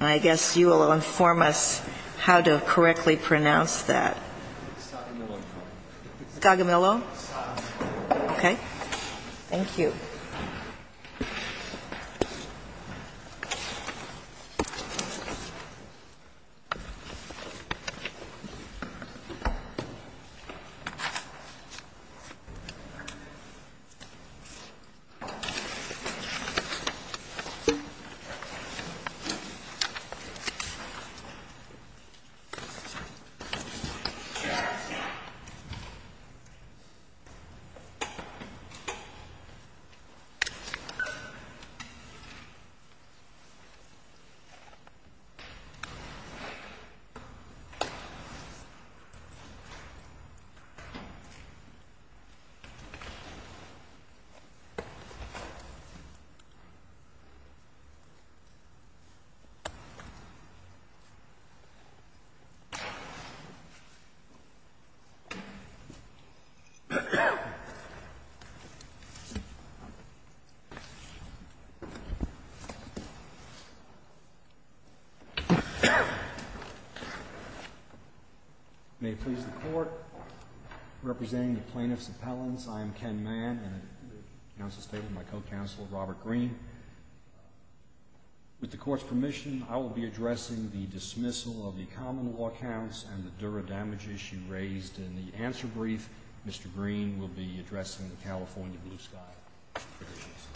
I guess you will inform us how to correctly pronounce that. Scognamillo? Okay. Thank you. I guess you will inform us how to correctly pronounce that. Scognamillo? May it please the Court, representing the plaintiff's appellants, I am Ken Mann, and I announce the statement of my co-counsel, Robert Greene. With the Court's permission, I will be addressing the dismissal of the common law counts and the dura damage issue raised in the answer brief. Mr. Greene will be addressing the California blue sky provisions.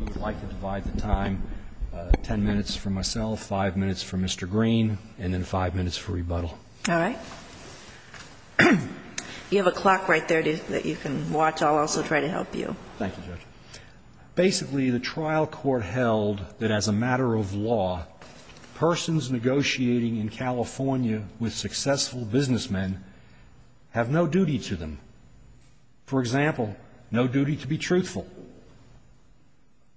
I would like to divide the time ten minutes for myself, five minutes for Mr. Greene, and then five minutes for Mr. Shell. All right. You have a clock right there that you can watch. I'll also try to help you. Thank you, Judge. Basically, the trial court held that as a matter of law, persons negotiating in California with successful businessmen have no duty to them. For example, no duty to be truthful.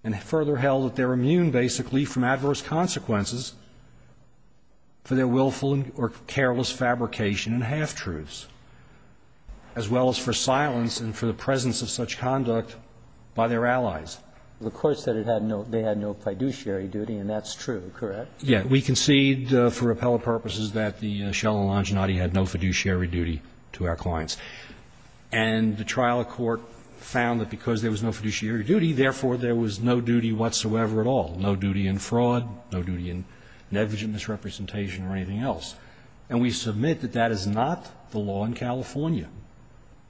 And further held that they're immune, basically, from adverse consequences for their willful or careless fabrication and half-truths, as well as for silence and for the presence of such conduct by their allies. The Court said it had no – they had no fiduciary duty, and that's true, correct? Yes. We concede for appellate purposes that the Shell and Longinati had no fiduciary duty to our clients. And the trial court found that because there was no fiduciary duty, therefore, there was no duty whatsoever at all, no duty in fraud, no duty in negligent misrepresentation or anything else. And we submit that that is not the law in California.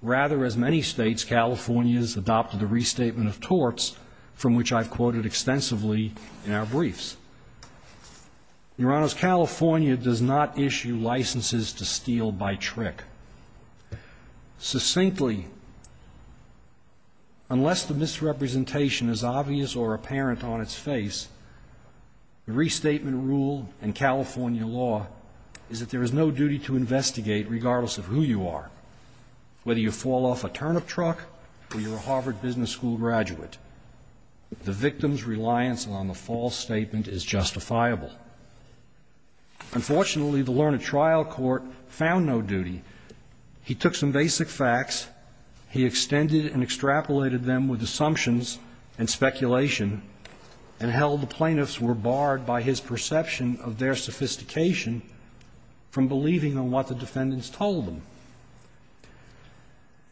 Rather, as many states, California has adopted a restatement of torts, from which I've quoted extensively in our briefs. Your Honors, California does not issue licenses to steal by trick. Succinctly, unless the misrepresentation is obvious or apparent on its face, the restatement rule in California law is that there is no duty to investigate regardless of who you are, whether you fall off a turnip truck or you're a Harvard Business School graduate. The victim's reliance on the false statement is justifiable. Unfortunately, the learned trial court found no duty. He took some basic facts. He extended and extrapolated them with assumptions and speculation and held the plaintiffs were barred by his perception of their sophistication from believing in what the defendants told them.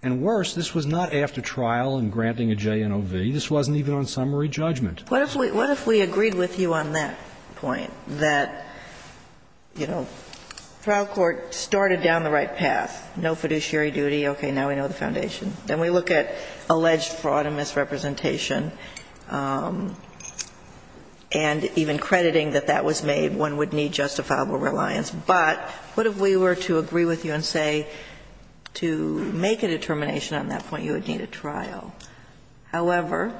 And worse, this was not after trial and granting a JNOV. This wasn't even on summary judgment. What if we agreed with you on that point, that, you know, trial court started down the right path, no fiduciary duty, okay, now we know the foundation. Then we look at alleged fraud and misrepresentation, and even crediting that that was made, one would need justifiable reliance. But what if we were to agree with you and say to make a determination on that point you would need a trial? However,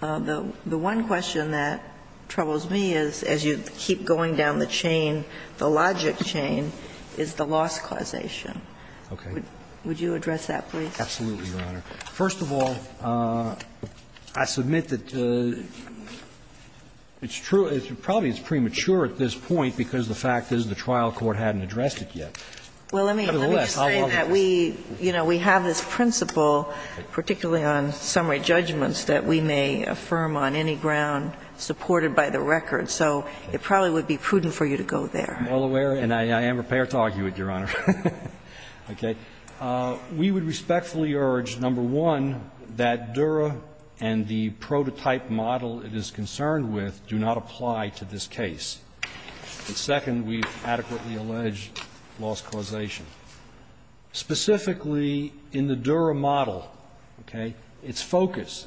the one question that troubles me is, as you keep going down the chain, the logic chain is the loss causation. Would you address that, please? Absolutely, Your Honor. First of all, I submit that it's true, probably it's premature at this point because the fact is the trial court hadn't addressed it yet. Nevertheless, I love it. Well, let me just say that we, you know, we have this principle, particularly on summary judgments, that we may affirm on any ground supported by the record. So it probably would be prudent for you to go there. I'm well aware, and I am prepared to argue it, Your Honor. Okay. We would respectfully urge, number one, that Dura and the prototype model it is concerned with do not apply to this case. And second, we adequately allege loss causation. Specifically, in the Dura model, okay, its focus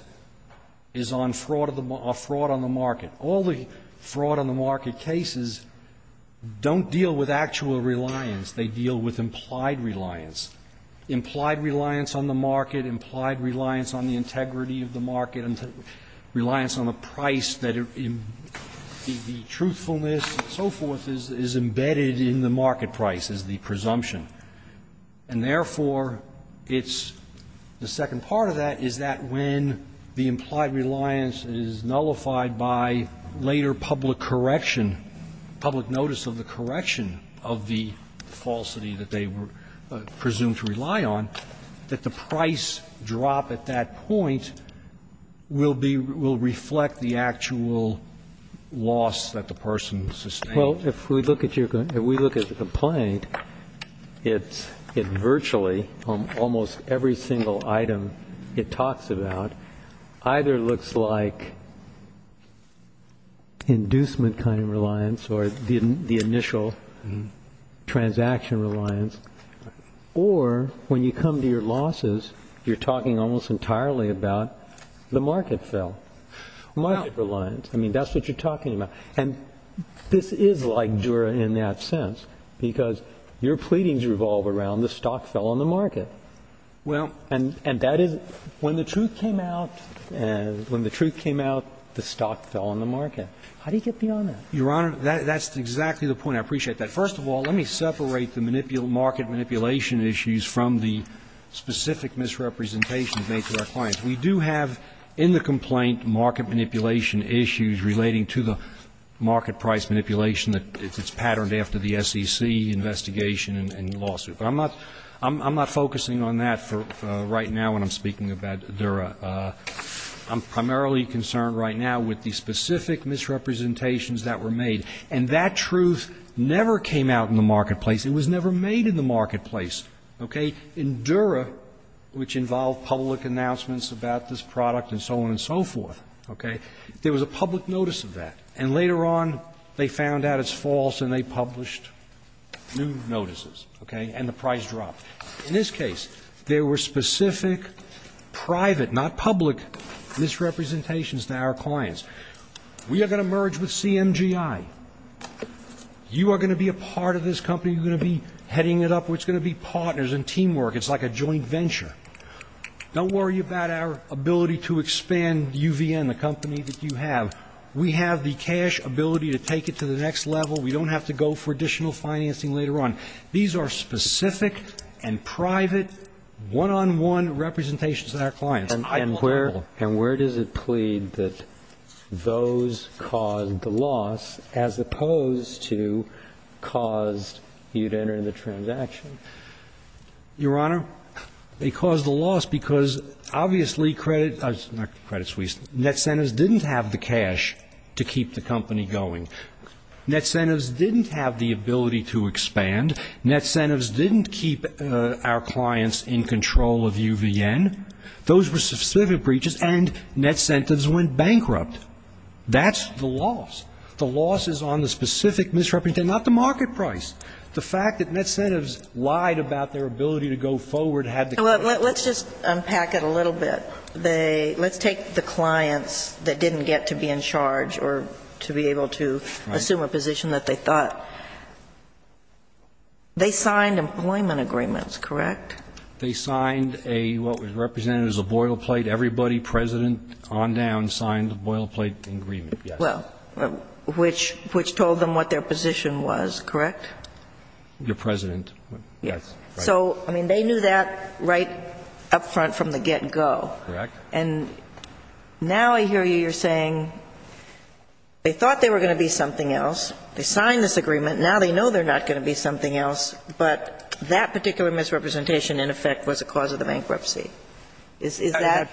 is on fraud on the market. All the fraud on the market cases don't deal with actual reliance. They deal with implied reliance. Implied reliance on the market, implied reliance on the integrity of the market, reliance on the price that the truthfulness and so forth is embedded in the market price, is the presumption. And therefore, it's the second part of that is that when the implied reliance is nullified by later public correction, public notice of the correction of the falsity that they were presumed to rely on, that the price drop at that point will be, will reflect the actual loss that the person sustained. Well, if we look at your complaint, if we look at the complaint, it's virtually, almost every single item it talks about either looks like inducement kind of reliance or the initial transaction reliance, or when you come to your losses, you're talking almost entirely about the market fail, market reliance. I mean, that's what you're talking about. And this is like Dura in that sense, because your pleadings revolve around the stock fell on the market. And that is, when the truth came out, when the truth came out, the stock fell on the market. How do you get beyond that? Your Honor, that's exactly the point. I appreciate that. First of all, let me separate the market manipulation issues from the specific misrepresentations made to our clients. We do have in the complaint market manipulation issues relating to the market price manipulation that is patterned after the SEC investigation and lawsuit. But I'm not, I'm not focusing on that right now when I'm speaking about Dura. I'm primarily concerned right now with the specific misrepresentations that were made. And that truth never came out in the marketplace. It was never made in the marketplace, okay? In Dura, which involved public announcements about this product and so on and so forth, okay, there was a public notice of that. And later on they found out it's false and they published new notices, okay, and the price dropped. In this case, there were specific private, not public, misrepresentations to our clients. We are going to merge with CMGI. You are going to be a part of this company. You are going to be heading it up. It's going to be partners and teamwork. It's like a joint venture. Don't worry about our ability to expand UVN, the company that you have. We have the cash ability to take it to the next level. We don't have to go for additional financing later on. These are specific and private, one-on-one representations to our clients. And where does it plead that those caused the loss as opposed to caused you to enter in the transaction? Your Honor, they caused the loss because obviously credit, not Credit Suisse, Net Centives didn't have the cash to keep the company going. Net Centives didn't have the ability to expand. Net Centives didn't keep our clients in control of UVN. Those were specific breaches. And Net Centives went bankrupt. That's the loss. The loss is on the specific misrepresentation, not the market price. The fact that Net Centives lied about their ability to go forward had to come. Let's just unpack it a little bit. Let's take the clients that didn't get to be in charge or to be able to assume a position that they thought. They signed employment agreements, correct? They signed a what was represented as a boil plate. Everybody, President on down, signed a boil plate agreement, yes. Well, which told them what their position was, correct? Your President. Yes. So, I mean, they knew that right up front from the get-go. Correct. And now I hear you. You're saying they thought they were going to be something else. They signed this agreement. Now they know they're not going to be something else. But that particular misrepresentation, in effect, was a cause of the bankruptcy. Is that?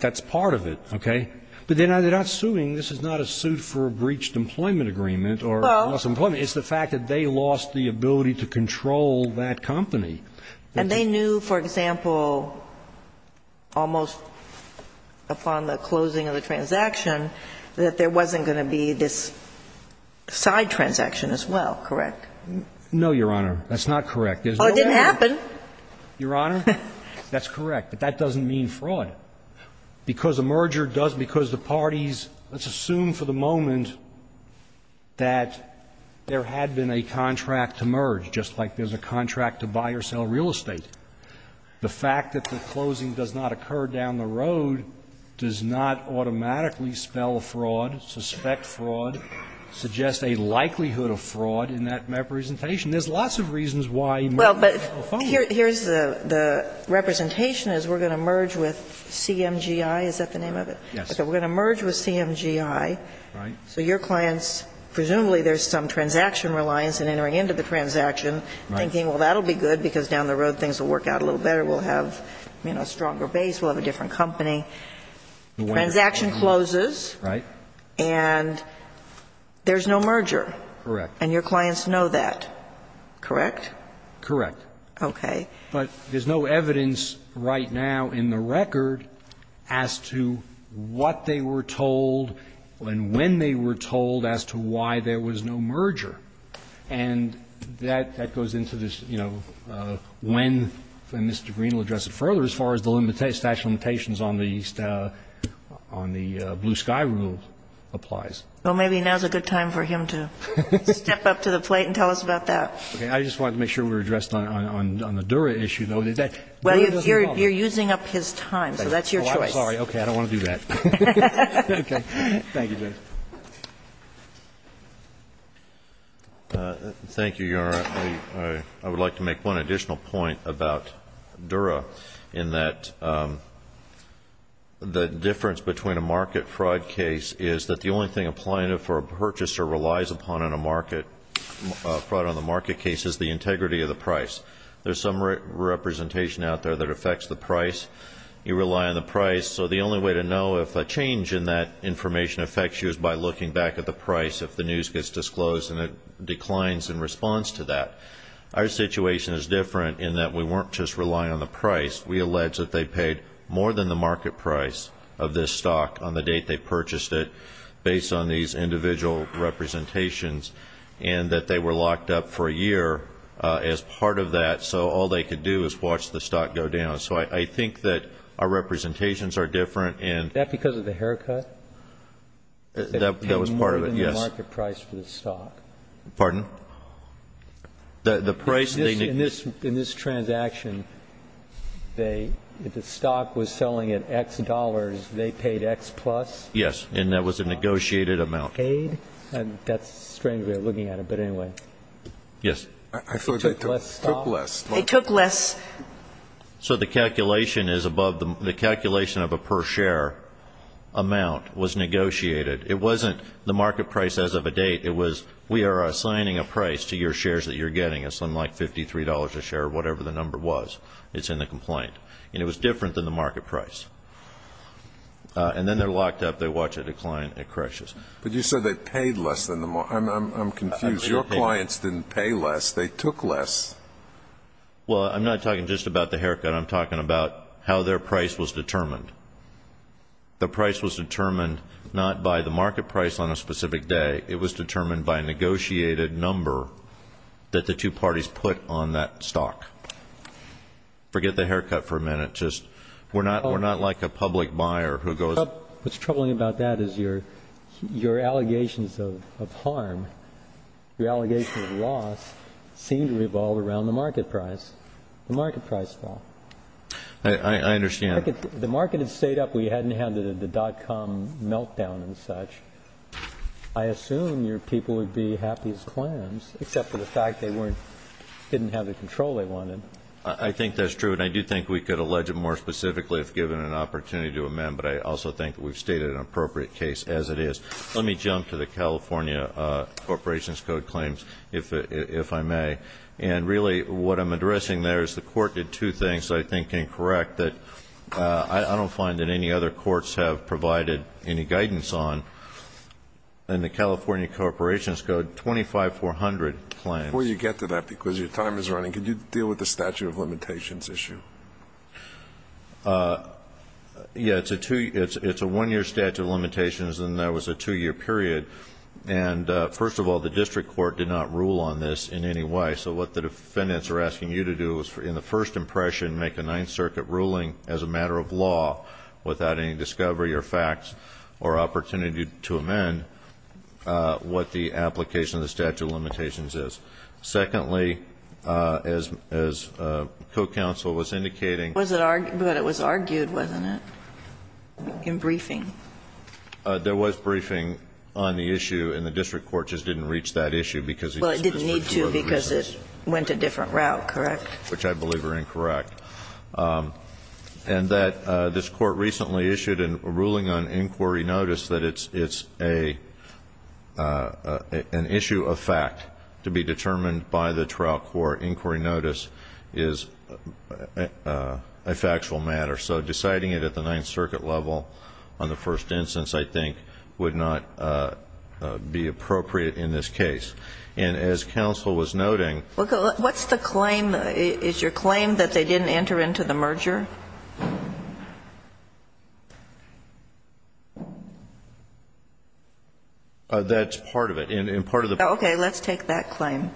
That's part of it, okay? But they're not suing. This is not a suit for a breached employment agreement or lost employment. Well. It's the fact that they lost the ability to control that company. And they knew, for example, almost upon the closing of the transaction, that there wasn't going to be this side transaction as well, correct? No, Your Honor. That's not correct. Oh, it didn't happen. Your Honor, that's correct. But that doesn't mean fraud. Because a merger does, because the parties, let's assume for the moment that there had been a contract to merge, just like there's a contract to buy or sell real estate. The fact that the closing does not occur down the road does not automatically spell fraud, suspect fraud, suggest a likelihood of fraud in that representation. There's lots of reasons why mergers spell fraud. Well, but here's the representation is we're going to merge with CMGI. Is that the name of it? Yes. Okay. We're going to merge with CMGI. Right. So your clients, presumably there's some transaction reliance in entering into the transaction, thinking, well, that'll be good because down the road things will work out a little better. We'll have, you know, a stronger base. We'll have a different company. The transaction closes. Right. And there's no merger. Correct. And your clients know that, correct? Correct. Okay. But there's no evidence right now in the record as to what they were told and when they were told as to why there was no merger. And that goes into this, you know, when Mr. Green will address it further as far as the statute of limitations on the Blue Sky rule applies. Well, maybe now's a good time for him to step up to the plate and tell us about that. Okay. I just wanted to make sure we were addressed on the Dura issue, though. Dura doesn't know. Well, you're using up his time, so that's your choice. Oh, I'm sorry. Okay. I don't want to do that. Okay. Thank you, Judge. Thank you, Your Honor. I would like to make one additional point about Dura in that the difference between a market fraud case is that the only thing a plaintiff or a purchaser relies upon on a market fraud on the market case is the integrity of the price. There's some representation out there that affects the price. You rely on the price. So the only way to know if a change in that information affects you is by looking back at the price if the news gets disclosed and it declines in response to that. Our situation is different in that we weren't just relying on the price. We allege that they paid more than the market price of this stock on the date they purchased it, based on these individual representations, and that they were locked up for a year as part of that, so all they could do is watch the stock go down. So I think that our representations are different. That because of the haircut? That was part of it, yes. More than the market price for the stock. Pardon? In this transaction, if the stock was selling at X dollars, they paid X plus? Yes, and that was a negotiated amount. Paid? That's strange the way you're looking at it, but anyway. Yes. I feel like they took less. They took less. So the calculation is above the calculation of a per share amount was negotiated. It wasn't the market price as of a date. It was we are assigning a price to your shares that you're getting, something like $53 a share or whatever the number was. It's in the complaint. And it was different than the market price. And then they're locked up. They watch it decline. It crashes. But you said they paid less than the market. I'm confused. Your clients didn't pay less. They took less. Well, I'm not talking just about the haircut. I'm talking about how their price was determined. The price was determined not by the market price on a specific day. It was determined by a negotiated number that the two parties put on that stock. Forget the haircut for a minute. Just we're not like a public buyer who goes up. What's troubling about that is your allegations of harm, your allegations of loss seem to revolve around the market price. The market price fell. I understand. The market had stayed up. We hadn't had the dot-com meltdown and such. I assume your people would be happy as clams except for the fact they didn't have the control they wanted. I think that's true. And I do think we could allege it more specifically if given an opportunity to amend. But I also think we've stated an appropriate case as it is. Let me jump to the California Corporations Code claims, if I may. And really what I'm addressing there is the court did two things I think incorrect that I don't find that any other courts have provided any guidance on. In the California Corporations Code, 25400 claims. Before you get to that because your time is running, could you deal with the statute of limitations issue? Yeah, it's a one-year statute of limitations and that was a two-year period. And first of all, the district court did not rule on this in any way. So what the defendants are asking you to do is in the first impression make a Ninth Circuit ruling as a matter of law without any discovery or facts or opportunity to amend what the application of the statute of limitations is. Secondly, as co-counsel was indicating. But it was argued, wasn't it? In briefing. There was briefing on the issue and the district court just didn't reach that issue because the district court refused. Well, it didn't need to because it went a different route, correct? Which I believe are incorrect. And that this court recently issued a ruling on inquiry notice that it's an issue of fact to be determined by the trial court. Inquiry notice is a factual matter. So deciding it at the Ninth Circuit level on the first instance, I think, would not be appropriate in this case. And as counsel was noting. What's the claim? Is your claim that they didn't enter into the merger? That's part of it. Okay. Let's take that claim.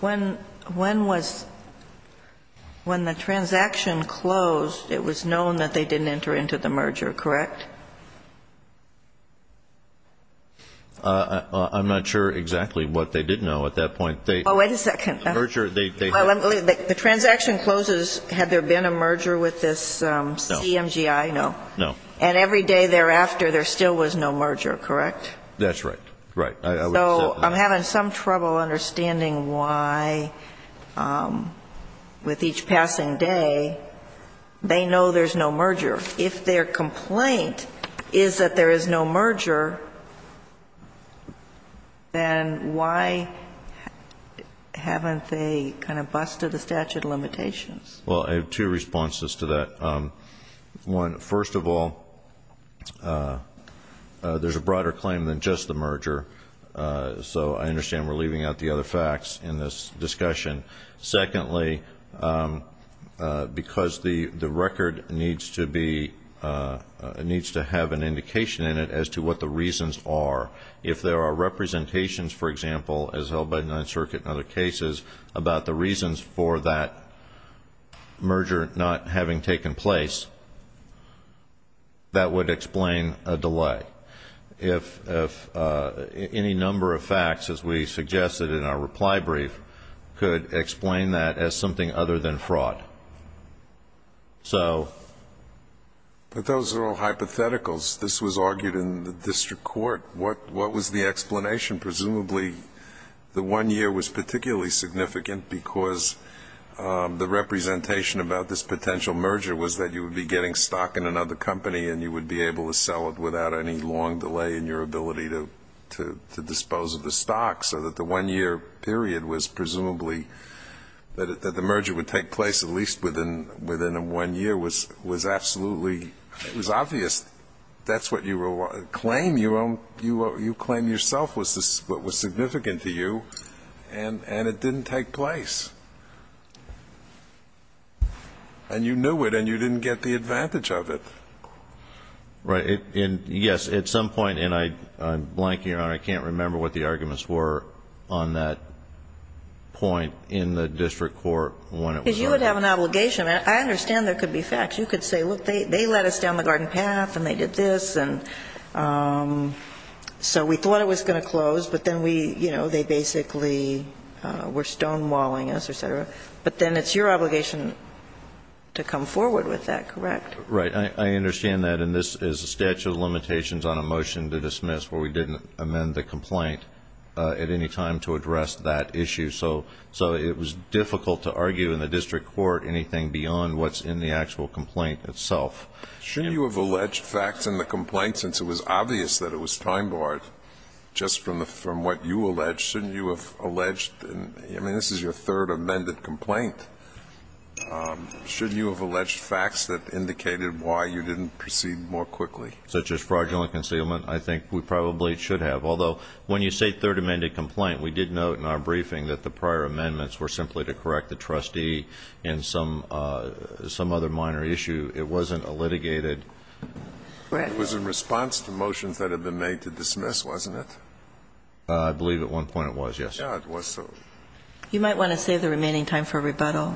When the transaction closed, it was known that they didn't enter into the merger, correct? I'm not sure exactly what they did know at that point. Wait a second. The transaction closes. Had there been a merger with this CMGI? No. And every day thereafter, there still was no merger, correct? That's right. Right. So I'm having some trouble understanding why, with each passing day, they know there's no merger. If their complaint is that there is no merger, then why haven't they kind of busted the statute of limitations? Well, I have two responses to that. One, first of all, there's a broader claim than just the merger. So I understand we're leaving out the other facts in this discussion. Secondly, because the record needs to have an indication in it as to what the reasons are. If there are representations, for example, as held by the Ninth Circuit in other cases, about the reasons for that merger not having taken place, that would explain a delay. If any number of facts, as we suggested in our reply brief, could explain that as something other than fraud. But those are all hypotheticals. This was argued in the district court. What was the explanation? Presumably the one year was particularly significant because the representation about this potential merger was that you would be getting stock in another company and you would be able to sell it without any long delay in your ability to dispose of the stock. So that the one year period was presumably that the merger would take place at least within one year was absolutely obvious. That's what you claim yourself was significant to you. And it didn't take place. And you knew it and you didn't get the advantage of it. Right. And, yes, at some point, and I'm blanking on it, I can't remember what the arguments were on that point in the district court when it was argued. Because you would have an obligation. I understand there could be facts. You could say, look, they let us down the garden path and they did this and so we thought it was going to close. But then we, you know, they basically were stonewalling us, et cetera. But then it's your obligation to come forward with that, correct? Right. I understand that. And this is a statute of limitations on a motion to dismiss where we didn't amend the complaint at any time to address that issue. So it was difficult to argue in the district court anything beyond what's in the actual complaint itself. Shouldn't you have alleged facts in the complaint since it was obvious that it was time barred just from what you alleged? Shouldn't you have alleged? I mean, this is your third amended complaint. Shouldn't you have alleged facts that indicated why you didn't proceed more quickly? Such as fraudulent concealment? I think we probably should have. Although when you say third amended complaint, we did note in our briefing that the prior amendments were simply to correct the trustee in some other minor issue. It wasn't a litigated. Go ahead. It was in response to motions that had been made to dismiss, wasn't it? I believe at one point it was, yes. Yeah, it was. You might want to save the remaining time for rebuttal.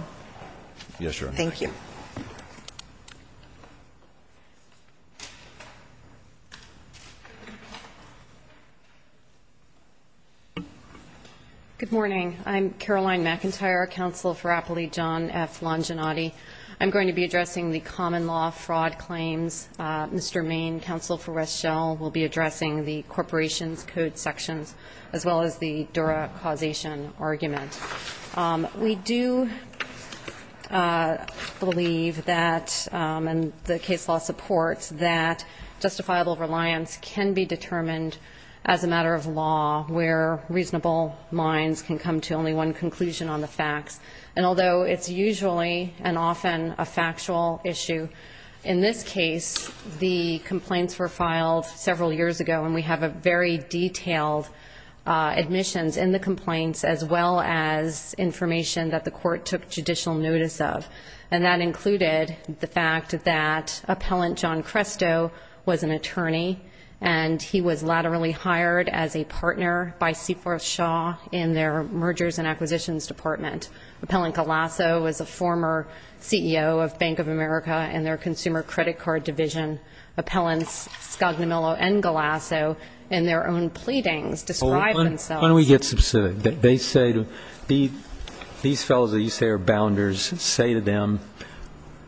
Yes, Your Honor. Thank you. Good morning. I'm Caroline McIntyre, counsel for Appellee John F. Longinotti. I'm going to be addressing the common law fraud claims. Mr. Main, counsel for Reschel, will be addressing the corporation's code sections as well as the Dura causation argument. We do believe that, and the case law supports, that justifiable reliance can be determined as a matter of law where reasonable minds can come to only one conclusion on the facts. And although it's usually and often a factual issue, in this case, the complaints were filed several years ago, and we have a very detailed admissions in the complaints as well as information that the court took judicial notice of. And that included the fact that Appellant John Cresto was an attorney, and he was laterally hired as a partner by Seaforth Shaw in their mergers and acquisitions department. Appellant Galasso was a former CEO of Bank of America and their consumer credit card division. Appellants Scognamillo and Galasso, in their own pleadings, describe themselves. Why don't we get specific? These fellows that you say are bounders, say to them,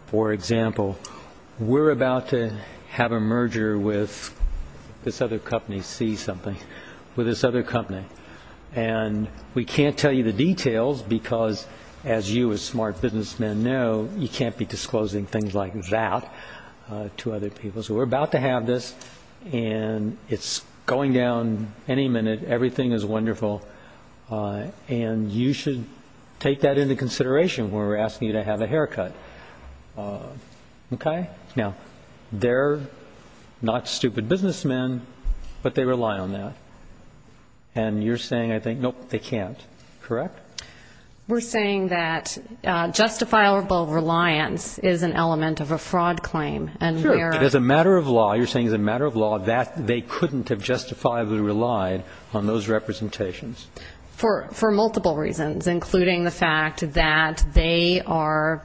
for example, we're about to have a merger with this other company, see something, with this other company. And we can't tell you the details because, as you as smart businessmen know, you can't be disclosing things like that to other people. So we're about to have this, and it's going down any minute. Everything is wonderful. And you should take that into consideration when we're asking you to have a haircut. Okay? Now, they're not stupid businessmen, but they rely on that. And you're saying, I think, nope, they can't. Correct? We're saying that justifiable reliance is an element of a fraud claim. Sure. As a matter of law, you're saying as a matter of law that they couldn't have justifiably relied on those representations. For multiple reasons, including the fact that they were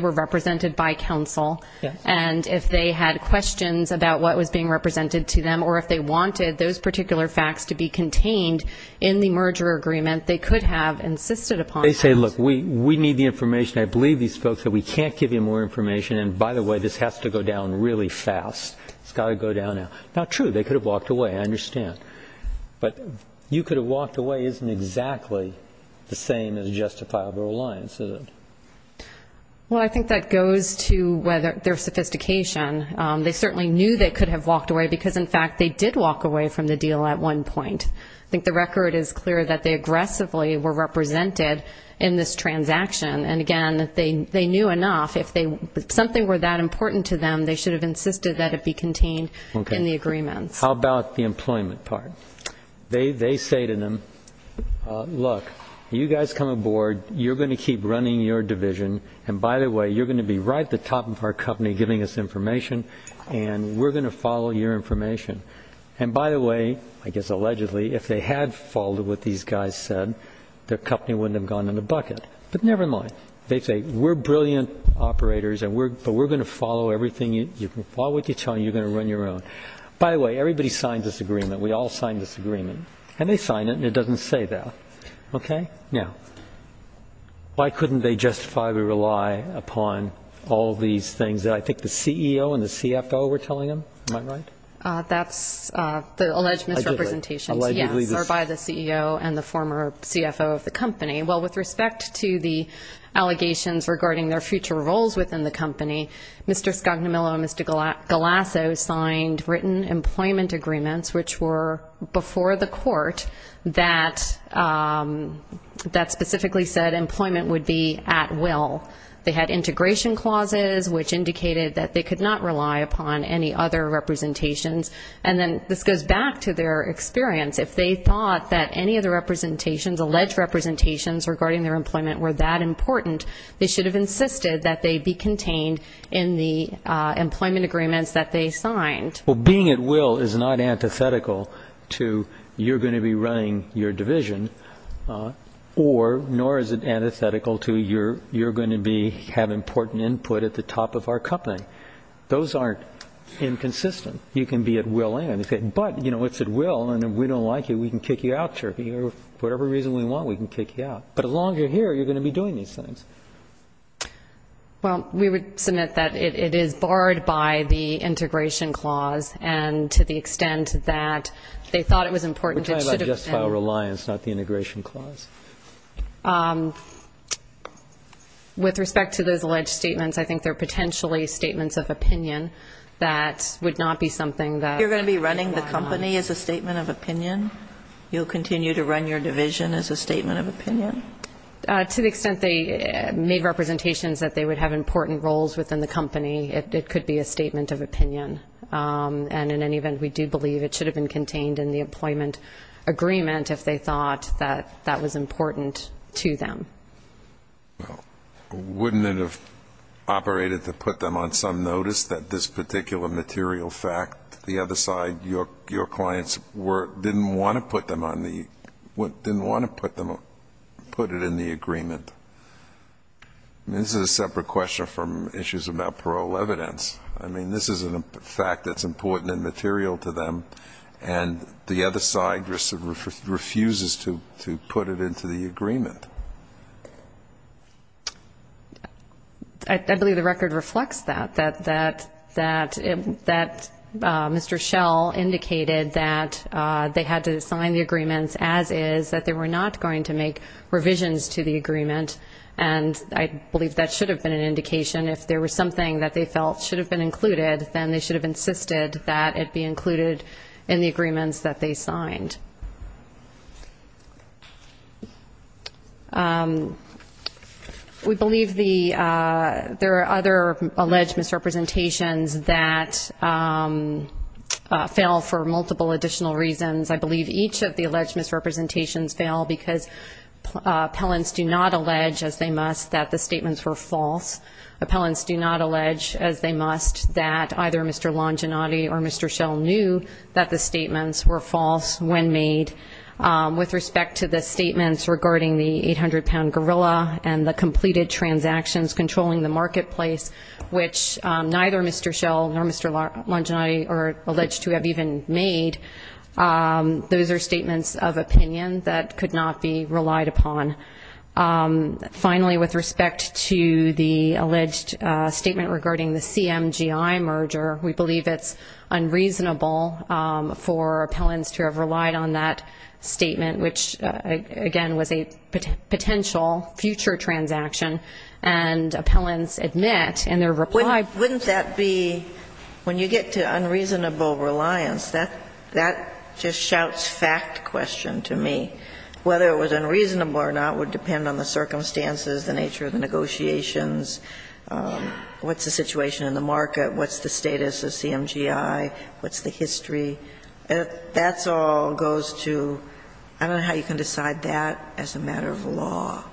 represented by counsel. And if they had questions about what was being represented to them, or if they wanted those particular facts to be contained in the merger agreement, they could have insisted upon that. They say, look, we need the information. I believe these folks that we can't give you more information. And, by the way, this has to go down really fast. It's got to go down now. Not true. They could have walked away. I understand. But you could have walked away isn't exactly the same as justifiable reliance, is it? Well, I think that goes to their sophistication. They certainly knew they could have walked away because, in fact, they did walk away from the deal at one point. I think the record is clear that they aggressively were represented in this transaction. And, again, they knew enough. If something were that important to them, they should have insisted that it be contained in the agreements. How about the employment part? They say to them, look, you guys come aboard, you're going to keep running your division, and, by the way, you're going to be right at the top of our company giving us information, and we're going to follow your information. And, by the way, I guess allegedly, if they had followed what these guys said, their company wouldn't have gone in the bucket. But never mind. They say, we're brilliant operators, but we're going to follow everything. You can follow what they tell you, and you're going to run your own. By the way, everybody signed this agreement. We all signed this agreement. And they signed it, and it doesn't say that. Okay? Now, why couldn't they justifiably rely upon all these things that I think the CEO and the CFO were telling them? Am I right? That's the alleged misrepresentations, yes, are by the CEO and the former CFO of the company. Well, with respect to the allegations regarding their future roles within the company, Mr. Scognamillo and Mr. Galasso signed written employment agreements, which were before the court, that specifically said employment would be at will. They had integration clauses, which indicated that they could not rely upon any other representations. And then this goes back to their experience. If they thought that any of the representations, alleged representations, regarding their employment were that important, they should have insisted that they be contained in the employment agreements that they signed. Well, being at will is not antithetical to you're going to be running your division, nor is it antithetical to you're going to have important input at the top of our company. Those aren't inconsistent. You can be at will, but it's at will, and if we don't like you, we can kick you out, or for whatever reason we want, we can kick you out. But the longer you're here, you're going to be doing these things. Well, we would submit that it is barred by the integration clause, and to the extent that they thought it was important, it should have been. We're talking about just file reliance, not the integration clause. With respect to those alleged statements, I think they're potentially statements of opinion that would not be something that we rely on. You're going to be running the company as a statement of opinion? You'll continue to run your division as a statement of opinion? To the extent they made representations that they would have important roles within the company, it could be a statement of opinion. And in any event, we do believe it should have been contained in the employment agreement if they thought that that was important to them. Well, wouldn't it have operated to put them on some notice that this particular material fact, the other side, your clients, didn't want to put it in the agreement? I mean, this is a separate question from issues about parole evidence. I mean, this is a fact that's important and material to them, and the other side refuses to put it into the agreement. I believe the record reflects that, that Mr. Schell indicated that they had to sign the agreements as is, that they were not going to make revisions to the agreement, and I believe that should have been an indication. If there was something that they felt should have been included, then they should have insisted that it be included in the agreements that they signed. We believe there are other alleged misrepresentations that fail for multiple additional reasons. I believe each of the alleged misrepresentations fail because appellants do not allege, as they must, that the statements were false. Appellants do not allege, as they must, that either Mr. Longinotti or Mr. Schell knew that the statements were false when made. With respect to the statements regarding the 800-pound gorilla and the completed transactions controlling the marketplace, which neither Mr. Schell nor Mr. Longinotti are alleged to have even made, those are statements of opinion that could not be relied upon. Finally, with respect to the alleged statement regarding the CMGI merger, we believe it's unreasonable for appellants to have relied on that statement, which, again, was a potential future transaction. And appellants admit in their reply. Wouldn't that be, when you get to unreasonable reliance, that just shouts fact question to me. Whether it was unreasonable or not would depend on the circumstances, the nature of the negotiations, what's the situation in the market, what's the status of CMGI, what's the history. That all goes to, I don't know how you can decide that as a matter of law.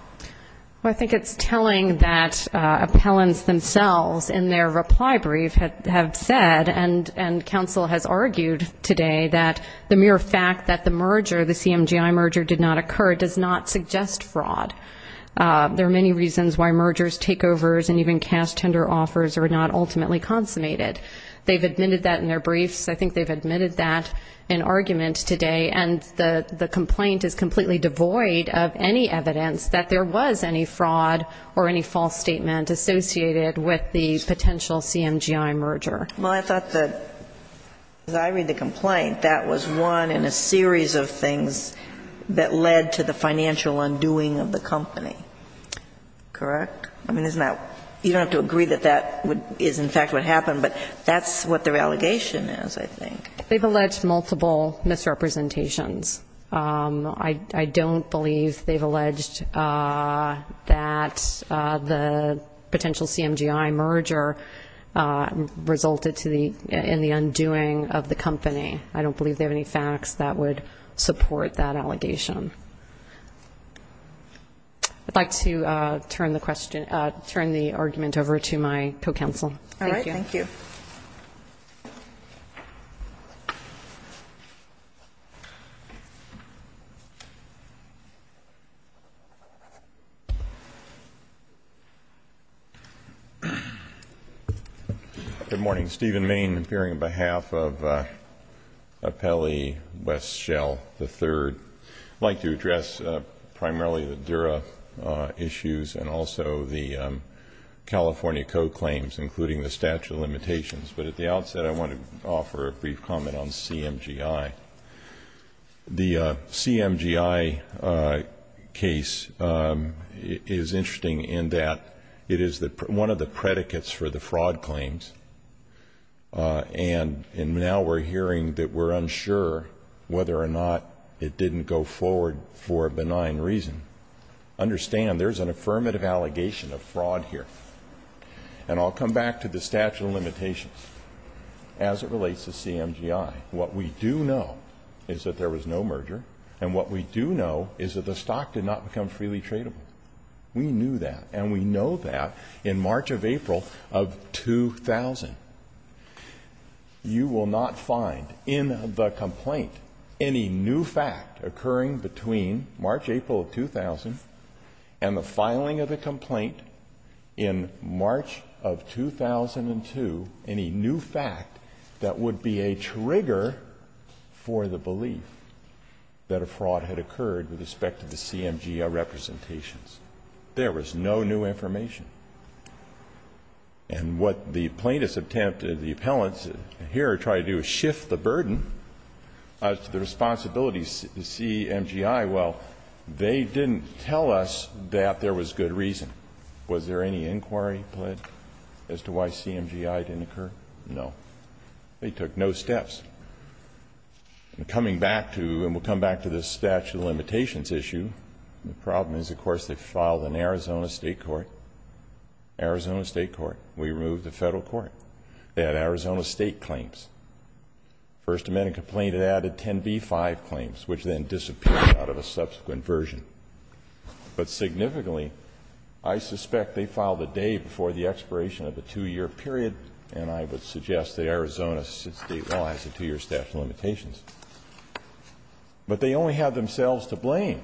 Well, I think it's telling that appellants themselves in their reply brief have said, and counsel has argued today, that the mere fact that the CMGI merger did not occur does not suggest fraud. There are many reasons why mergers, takeovers, and even cash tender offers are not ultimately consummated. They've admitted that in their briefs. I think they've admitted that in argument today, and the complaint is completely devoid of any evidence that there was any fraud or any false statement associated with the potential CMGI merger. Well, I thought that, as I read the complaint, that was one in a series of things that led to the financial undoing of the company. Correct? I mean, isn't that, you don't have to agree that that is in fact what happened, but that's what their allegation is, I think. They've alleged multiple misrepresentations. I don't believe they've alleged that the potential CMGI merger resulted in the undoing of the company. I don't believe they have any facts that would support that allegation. I'd like to turn the question, turn the argument over to my co-counsel. All right, thank you. Thank you. Good morning. Stephen Main appearing on behalf of Apelli Westshell III. I'd like to address primarily the Dura issues and also the California Code claims, including the statute of limitations. But at the outset, I want to offer a brief comment on CMGI. The CMGI case is interesting in that it is one of the predicates for the fraud claims, and now we're hearing that we're unsure whether or not it didn't go forward for a benign reason. Understand, there's an affirmative allegation of fraud here. And I'll come back to the statute of limitations. As it relates to CMGI, what we do know is that there was no merger, and what we do know is that the stock did not become freely tradable. We knew that, and we know that in March of April of 2000. You will not find in the complaint any new fact occurring between March April of 2000 and the filing of the complaint in March of 2002, any new fact that would be a trigger for the belief that a fraud had occurred with respect to the CMGI representations. There was no new information. And what the plaintiffs attempted, the appellants here tried to do is shift the burden of the responsibilities to CMGI. Well, they didn't tell us that there was good reason. Was there any inquiry put as to why CMGI didn't occur? No. They took no steps. And coming back to, and we'll come back to this statute of limitations issue, the problem is, of course, they filed an Arizona State court, Arizona State court. We removed the Federal court. They had Arizona State claims. First Amendment complaint added 10b-5 claims, which then disappeared out of a subsequent version. But significantly, I suspect they filed a day before the expiration of the 2-year period, and I would suggest that Arizona State law has a 2-year statute of limitations. But they only have themselves to blame.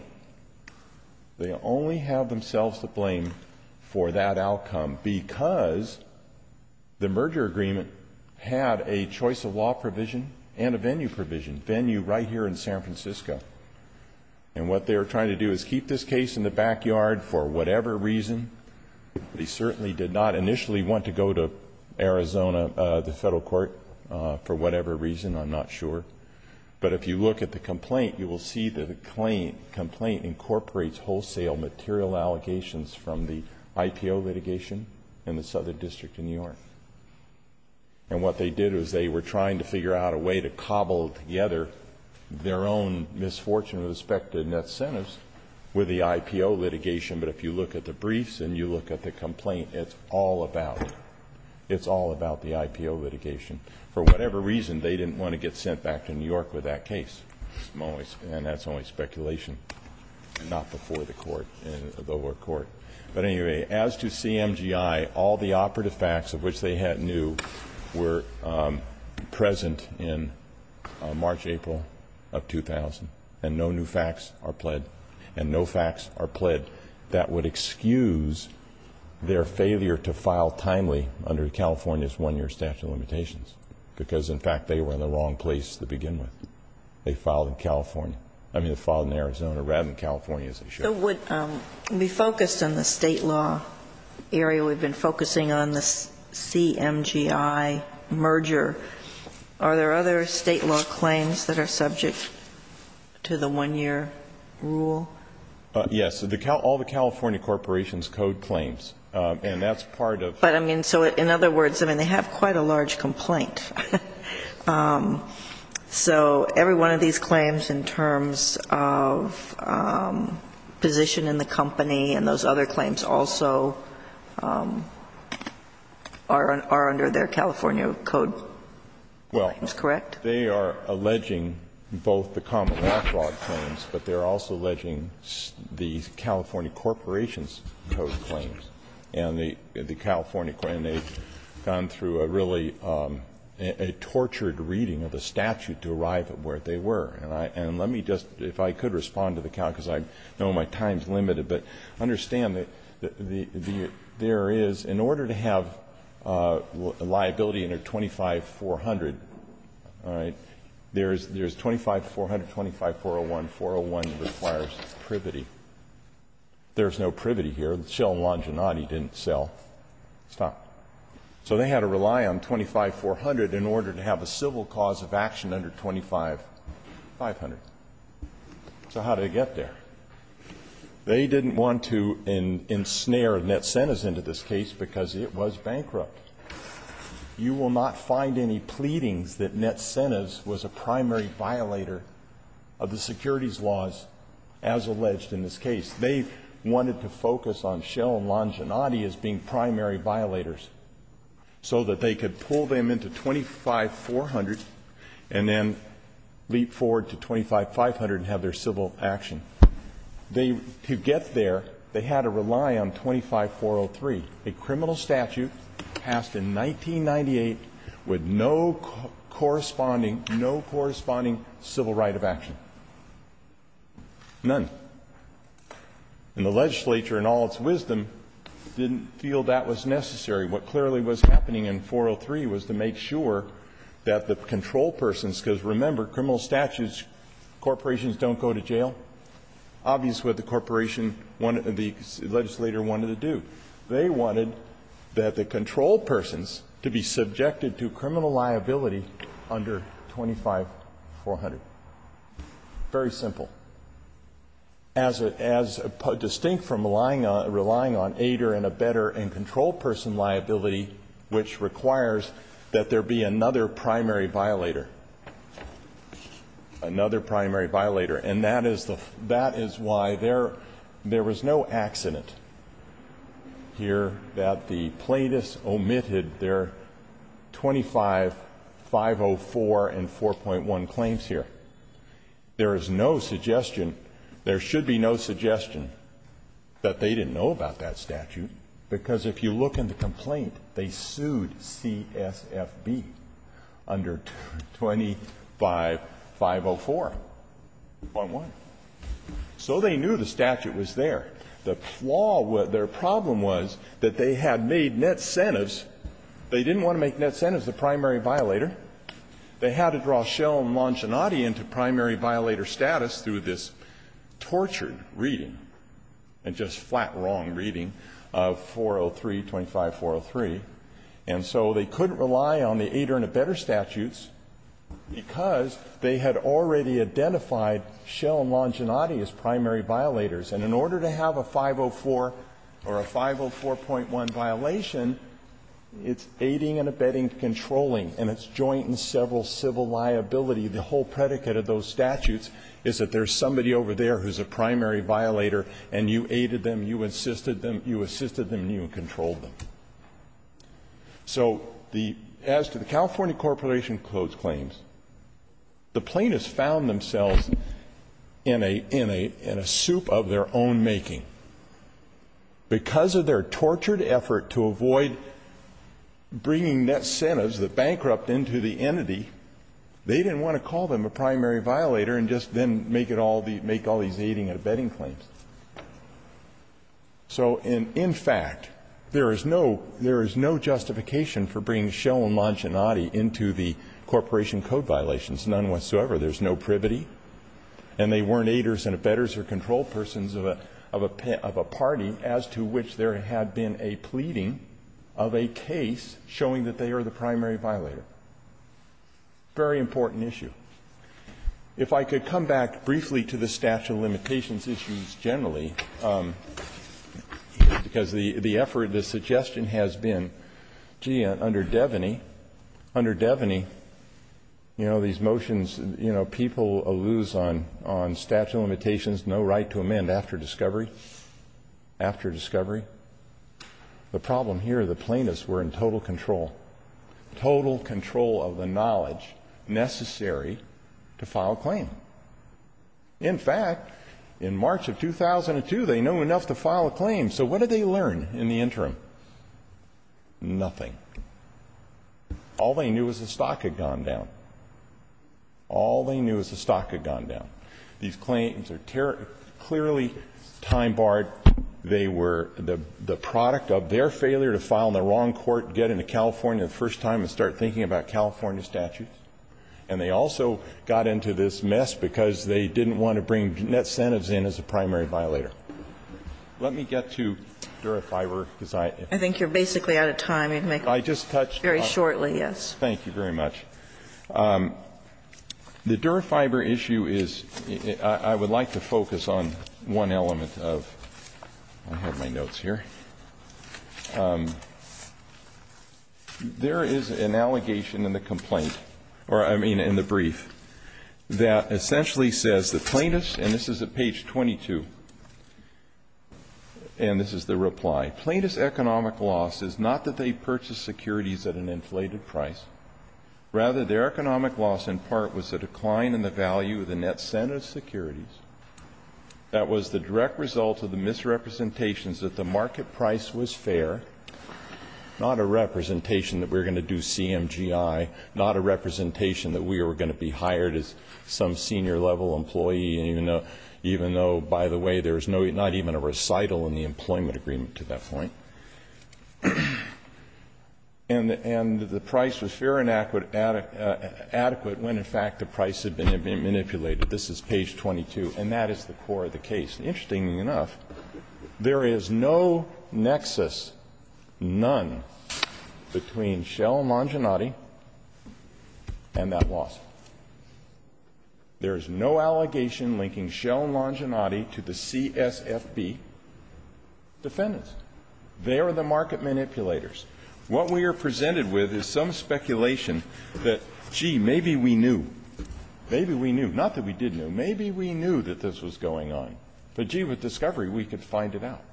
They only have themselves to blame for that outcome because the merger agreement had a choice of law provision and a venue provision, venue right here in San Francisco. And what they were trying to do is keep this case in the backyard for whatever reason. They certainly did not initially want to go to Arizona, the Federal court, for whatever reason. I'm not sure. But if you look at the complaint, you will see that the complaint incorporates wholesale material allegations from the IPO litigation in the Southern District in New York. And what they did was they were trying to figure out a way to cobble together their own misfortune with respect to net incentives with the IPO litigation. But if you look at the briefs and you look at the complaint, it's all about it. It's all about the IPO litigation. For whatever reason, they didn't want to get sent back to New York with that case. And that's only speculation, not before the court, the lower court. But anyway, as to CMGI, all the operative facts of which they had new were present in March, April of 2000, and no new facts are pled, and no facts are pled that would excuse their failure to file timely under California's one-year statute of limitations. Because, in fact, they were in the wrong place to begin with. They filed in California. I mean, they filed in Arizona rather than California, as they should have. We focused on the state law area. We've been focusing on the CMGI merger. Are there other state law claims that are subject to the one-year rule? All the California corporations code claims, and that's part of it. But, I mean, so in other words, I mean, they have quite a large complaint. So every one of these claims in terms of position in the company and those other claims also are under their California code claims, correct? Well, they are alleging both the common law fraud claims, but they're also alleging the California corporations code claims. And the California, and they've gone through a really, a tortured reading of the statute to arrive at where they were. And let me just, if I could respond to the count, because I know my time is limited, but understand that there is, in order to have liability under 25-400, all right, there's 25-400, 25-401. 401 requires privity. There's no privity here. Shell and Longinati didn't sell. Stop. So they had to rely on 25-400 in order to have a civil cause of action under 25-500. So how did it get there? They didn't want to ensnare Net-Cenas into this case because it was bankrupt. You will not find any pleadings that Net-Cenas was a primary violator of the securities laws as alleged in this case. They wanted to focus on Shell and Longinati as being primary violators so that they could pull them into 25-400 and then leap forward to 25-500 and have their civil action. They, to get there, they had to rely on 25-403. A criminal statute passed in 1998 with no corresponding, no corresponding civil right of action. None. And the legislature, in all its wisdom, didn't feel that was necessary. What clearly was happening in 403 was to make sure that the control persons, because remember, criminal statutes, corporations don't go to jail. Obviously, what the corporation wanted, the legislator wanted to do. They wanted that the control persons to be subjected to criminal liability under 25-400. Very simple. As distinct from relying on ADER and a better and controlled person liability, which requires that there be another primary violator. Another primary violator. And that is the, that is why there, there was no accident. Here, that the plaintiffs omitted their 25-504 and 4.1 claims here. There is no suggestion, there should be no suggestion that they didn't know about that statute, because if you look in the complaint, they sued CSFB under 25-504.1. So they knew the statute was there. The flaw, their problem was that they had made net incentives. They didn't want to make net incentives the primary violator. They had to draw Schell and Longinati into primary violator status through this tortured reading and just flat wrong reading of 403, 25-403. And so they couldn't rely on the ADER and a better statutes because they had already identified Schell and Longinati as primary violators. And in order to have a 504 or a 504.1 violation, it's aiding and abetting, controlling, and it's joint and several civil liability. The whole predicate of those statutes is that there is somebody over there who is a primary violator and you aided them, you assisted them, you assisted them, and you controlled them. So the, as to the California Corporation of Clothes Claims, the plaintiffs found themselves in a, in a, in a soup of their own making. Because of their tortured effort to avoid bringing net incentives that bankrupt into the entity, they didn't want to call them a primary violator and just then make it all the, make all these aiding and abetting claims. So in, in fact, there is no, there is no justification for bringing Schell and Longinati into the corporation code violations, none whatsoever. There is no privity. And they weren't aiders and abettors or control persons of a, of a party as to which there had been a pleading of a case showing that they are the primary violator. Very important issue. If I could come back briefly to the statute of limitations issues generally, because the, the effort, the suggestion has been, gee, under Devaney, under Devaney you know, these motions, you know, people alluse on, on statute of limitations, no right to amend after discovery, after discovery. The problem here, the plaintiffs were in total control, total control of the knowledge necessary to file a claim. In fact, in March of 2002, they knew enough to file a claim. So what did they learn in the interim? Nothing. All they knew was the stock had gone down. All they knew was the stock had gone down. These claims are terribly, clearly time-barred. They were the, the product of their failure to file in the wrong court, get into California the first time and start thinking about California statutes. And they also got into this mess because they didn't want to bring net sentence in as a primary violator. Let me get to Dura-Fiber, because I, if I could. I just touched on it. Very shortly, yes. Thank you very much. The Dura-Fiber issue is, I would like to focus on one element of, I have my notes here. There is an allegation in the complaint, or I mean in the brief, that essentially says the plaintiffs, and this is at page 22, and this is the reply. Plaintiff's economic loss is not that they purchased securities at an inflated price. Rather, their economic loss in part was a decline in the value of the net sentence securities that was the direct result of the misrepresentations that the market price was fair, not a representation that we were going to do CMGI, not a representation that we were going to be hired as some senior level employee, even though, by the way, there is not even a recital in the employment agreement to that point. And the price was fair and adequate when, in fact, the price had been manipulated. This is page 22, and that is the core of the case. Interestingly enough, there is no nexus, none, between Shell and Longinati and that loss. There is no allegation linking Shell and Longinati to the CSFB defendants. They are the market manipulators. What we are presented with is some speculation that, gee, maybe we knew. Maybe we knew. Not that we didn't know. Maybe we knew that this was going on. But, gee, with discovery, we could find it out.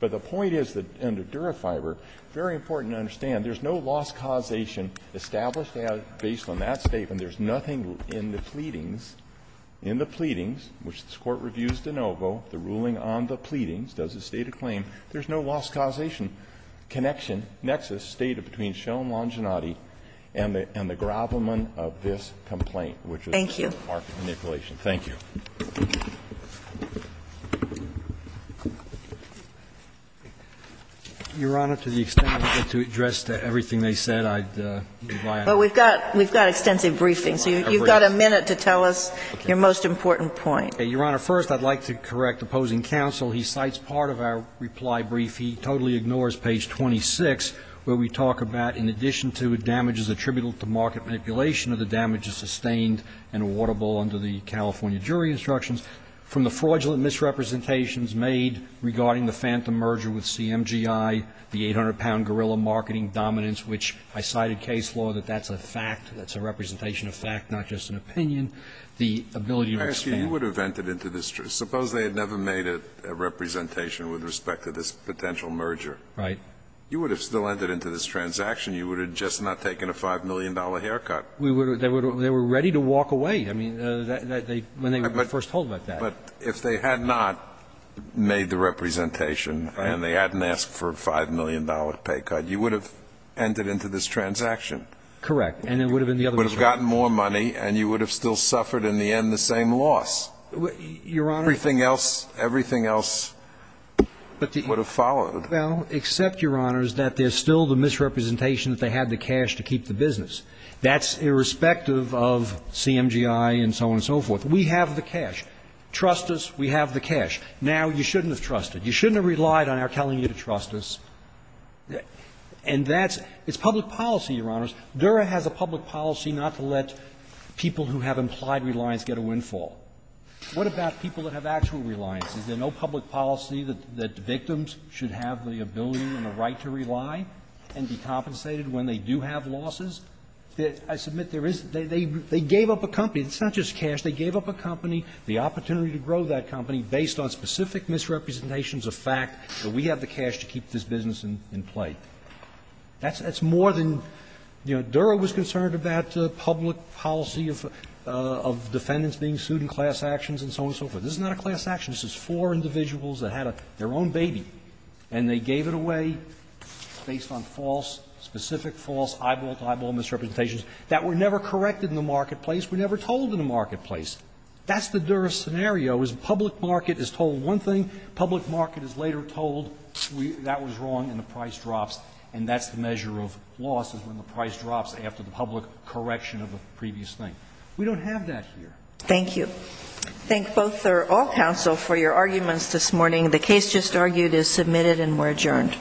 But the point is that under Durafiber, very important to understand, there is no loss causation established based on that statement. And there is nothing in the pleadings, in the pleadings, which this Court reviews de novo, the ruling on the pleadings, does it state a claim, there is no loss causation connection, nexus stated between Shell and Longinati and the grovelment of this complaint, which was the market manipulation. Thank you. Sotomayor, Your Honor, to the extent I get to address everything they said, I'd be glad. But we've got extensive briefings. You've got a minute to tell us your most important point. Your Honor, first, I'd like to correct opposing counsel. He cites part of our reply brief. He totally ignores page 26, where we talk about, in addition to damages attributable to market manipulation, are the damages sustained and awardable under the California jury instructions. From the fraudulent misrepresentations made regarding the Phantom merger with CMGI, the 800-pound guerrilla marketing dominance, which I cited case law that that's a fact, that's a representation of fact, not just an opinion, the ability to expand. Scalia, you would have entered into this. Suppose they had never made a representation with respect to this potential merger. Right. You would have still entered into this transaction. You would have just not taken a $5 million haircut. We would have. They were ready to walk away. I mean, when they were first told about that. But if they had not made the representation and they hadn't asked for a $5 million pay cut, you would have entered into this transaction. Correct. And it would have been the other way around. You would have gotten more money, and you would have still suffered, in the end, the same loss. Your Honor. Everything else, everything else would have followed. Well, except, Your Honor, that there's still the misrepresentation that they had the cash to keep the business. That's irrespective of CMGI and so on and so forth. We have the cash. Trust us. We have the cash. Now, you shouldn't have trusted. You shouldn't have relied on our telling you to trust us. And that's – it's public policy, Your Honors. Dura has a public policy not to let people who have implied reliance get a windfall. What about people that have actual reliance? Is there no public policy that victims should have the ability and the right to rely and be compensated when they do have losses? I submit there is. They gave up a company. It's not just cash. They gave up a company, the opportunity to grow that company based on specific misrepresentations of fact that we have the cash to keep this business in play. That's more than – you know, Dura was concerned about public policy of defendants being sued in class actions and so on and so forth. This is not a class action. This is four individuals that had their own baby, and they gave it away based on false – specific false eyeball-to-eyeball misrepresentations that were never corrected in the marketplace. We never told in the marketplace. That's the Dura scenario, is public market is told one thing, public market is later told that was wrong and the price drops, and that's the measure of loss is when the price drops after the public correction of a previous thing. We don't have that here. Thank you. I thank both or all counsel for your arguments this morning. The case just argued is submitted and we're adjourned. All rise.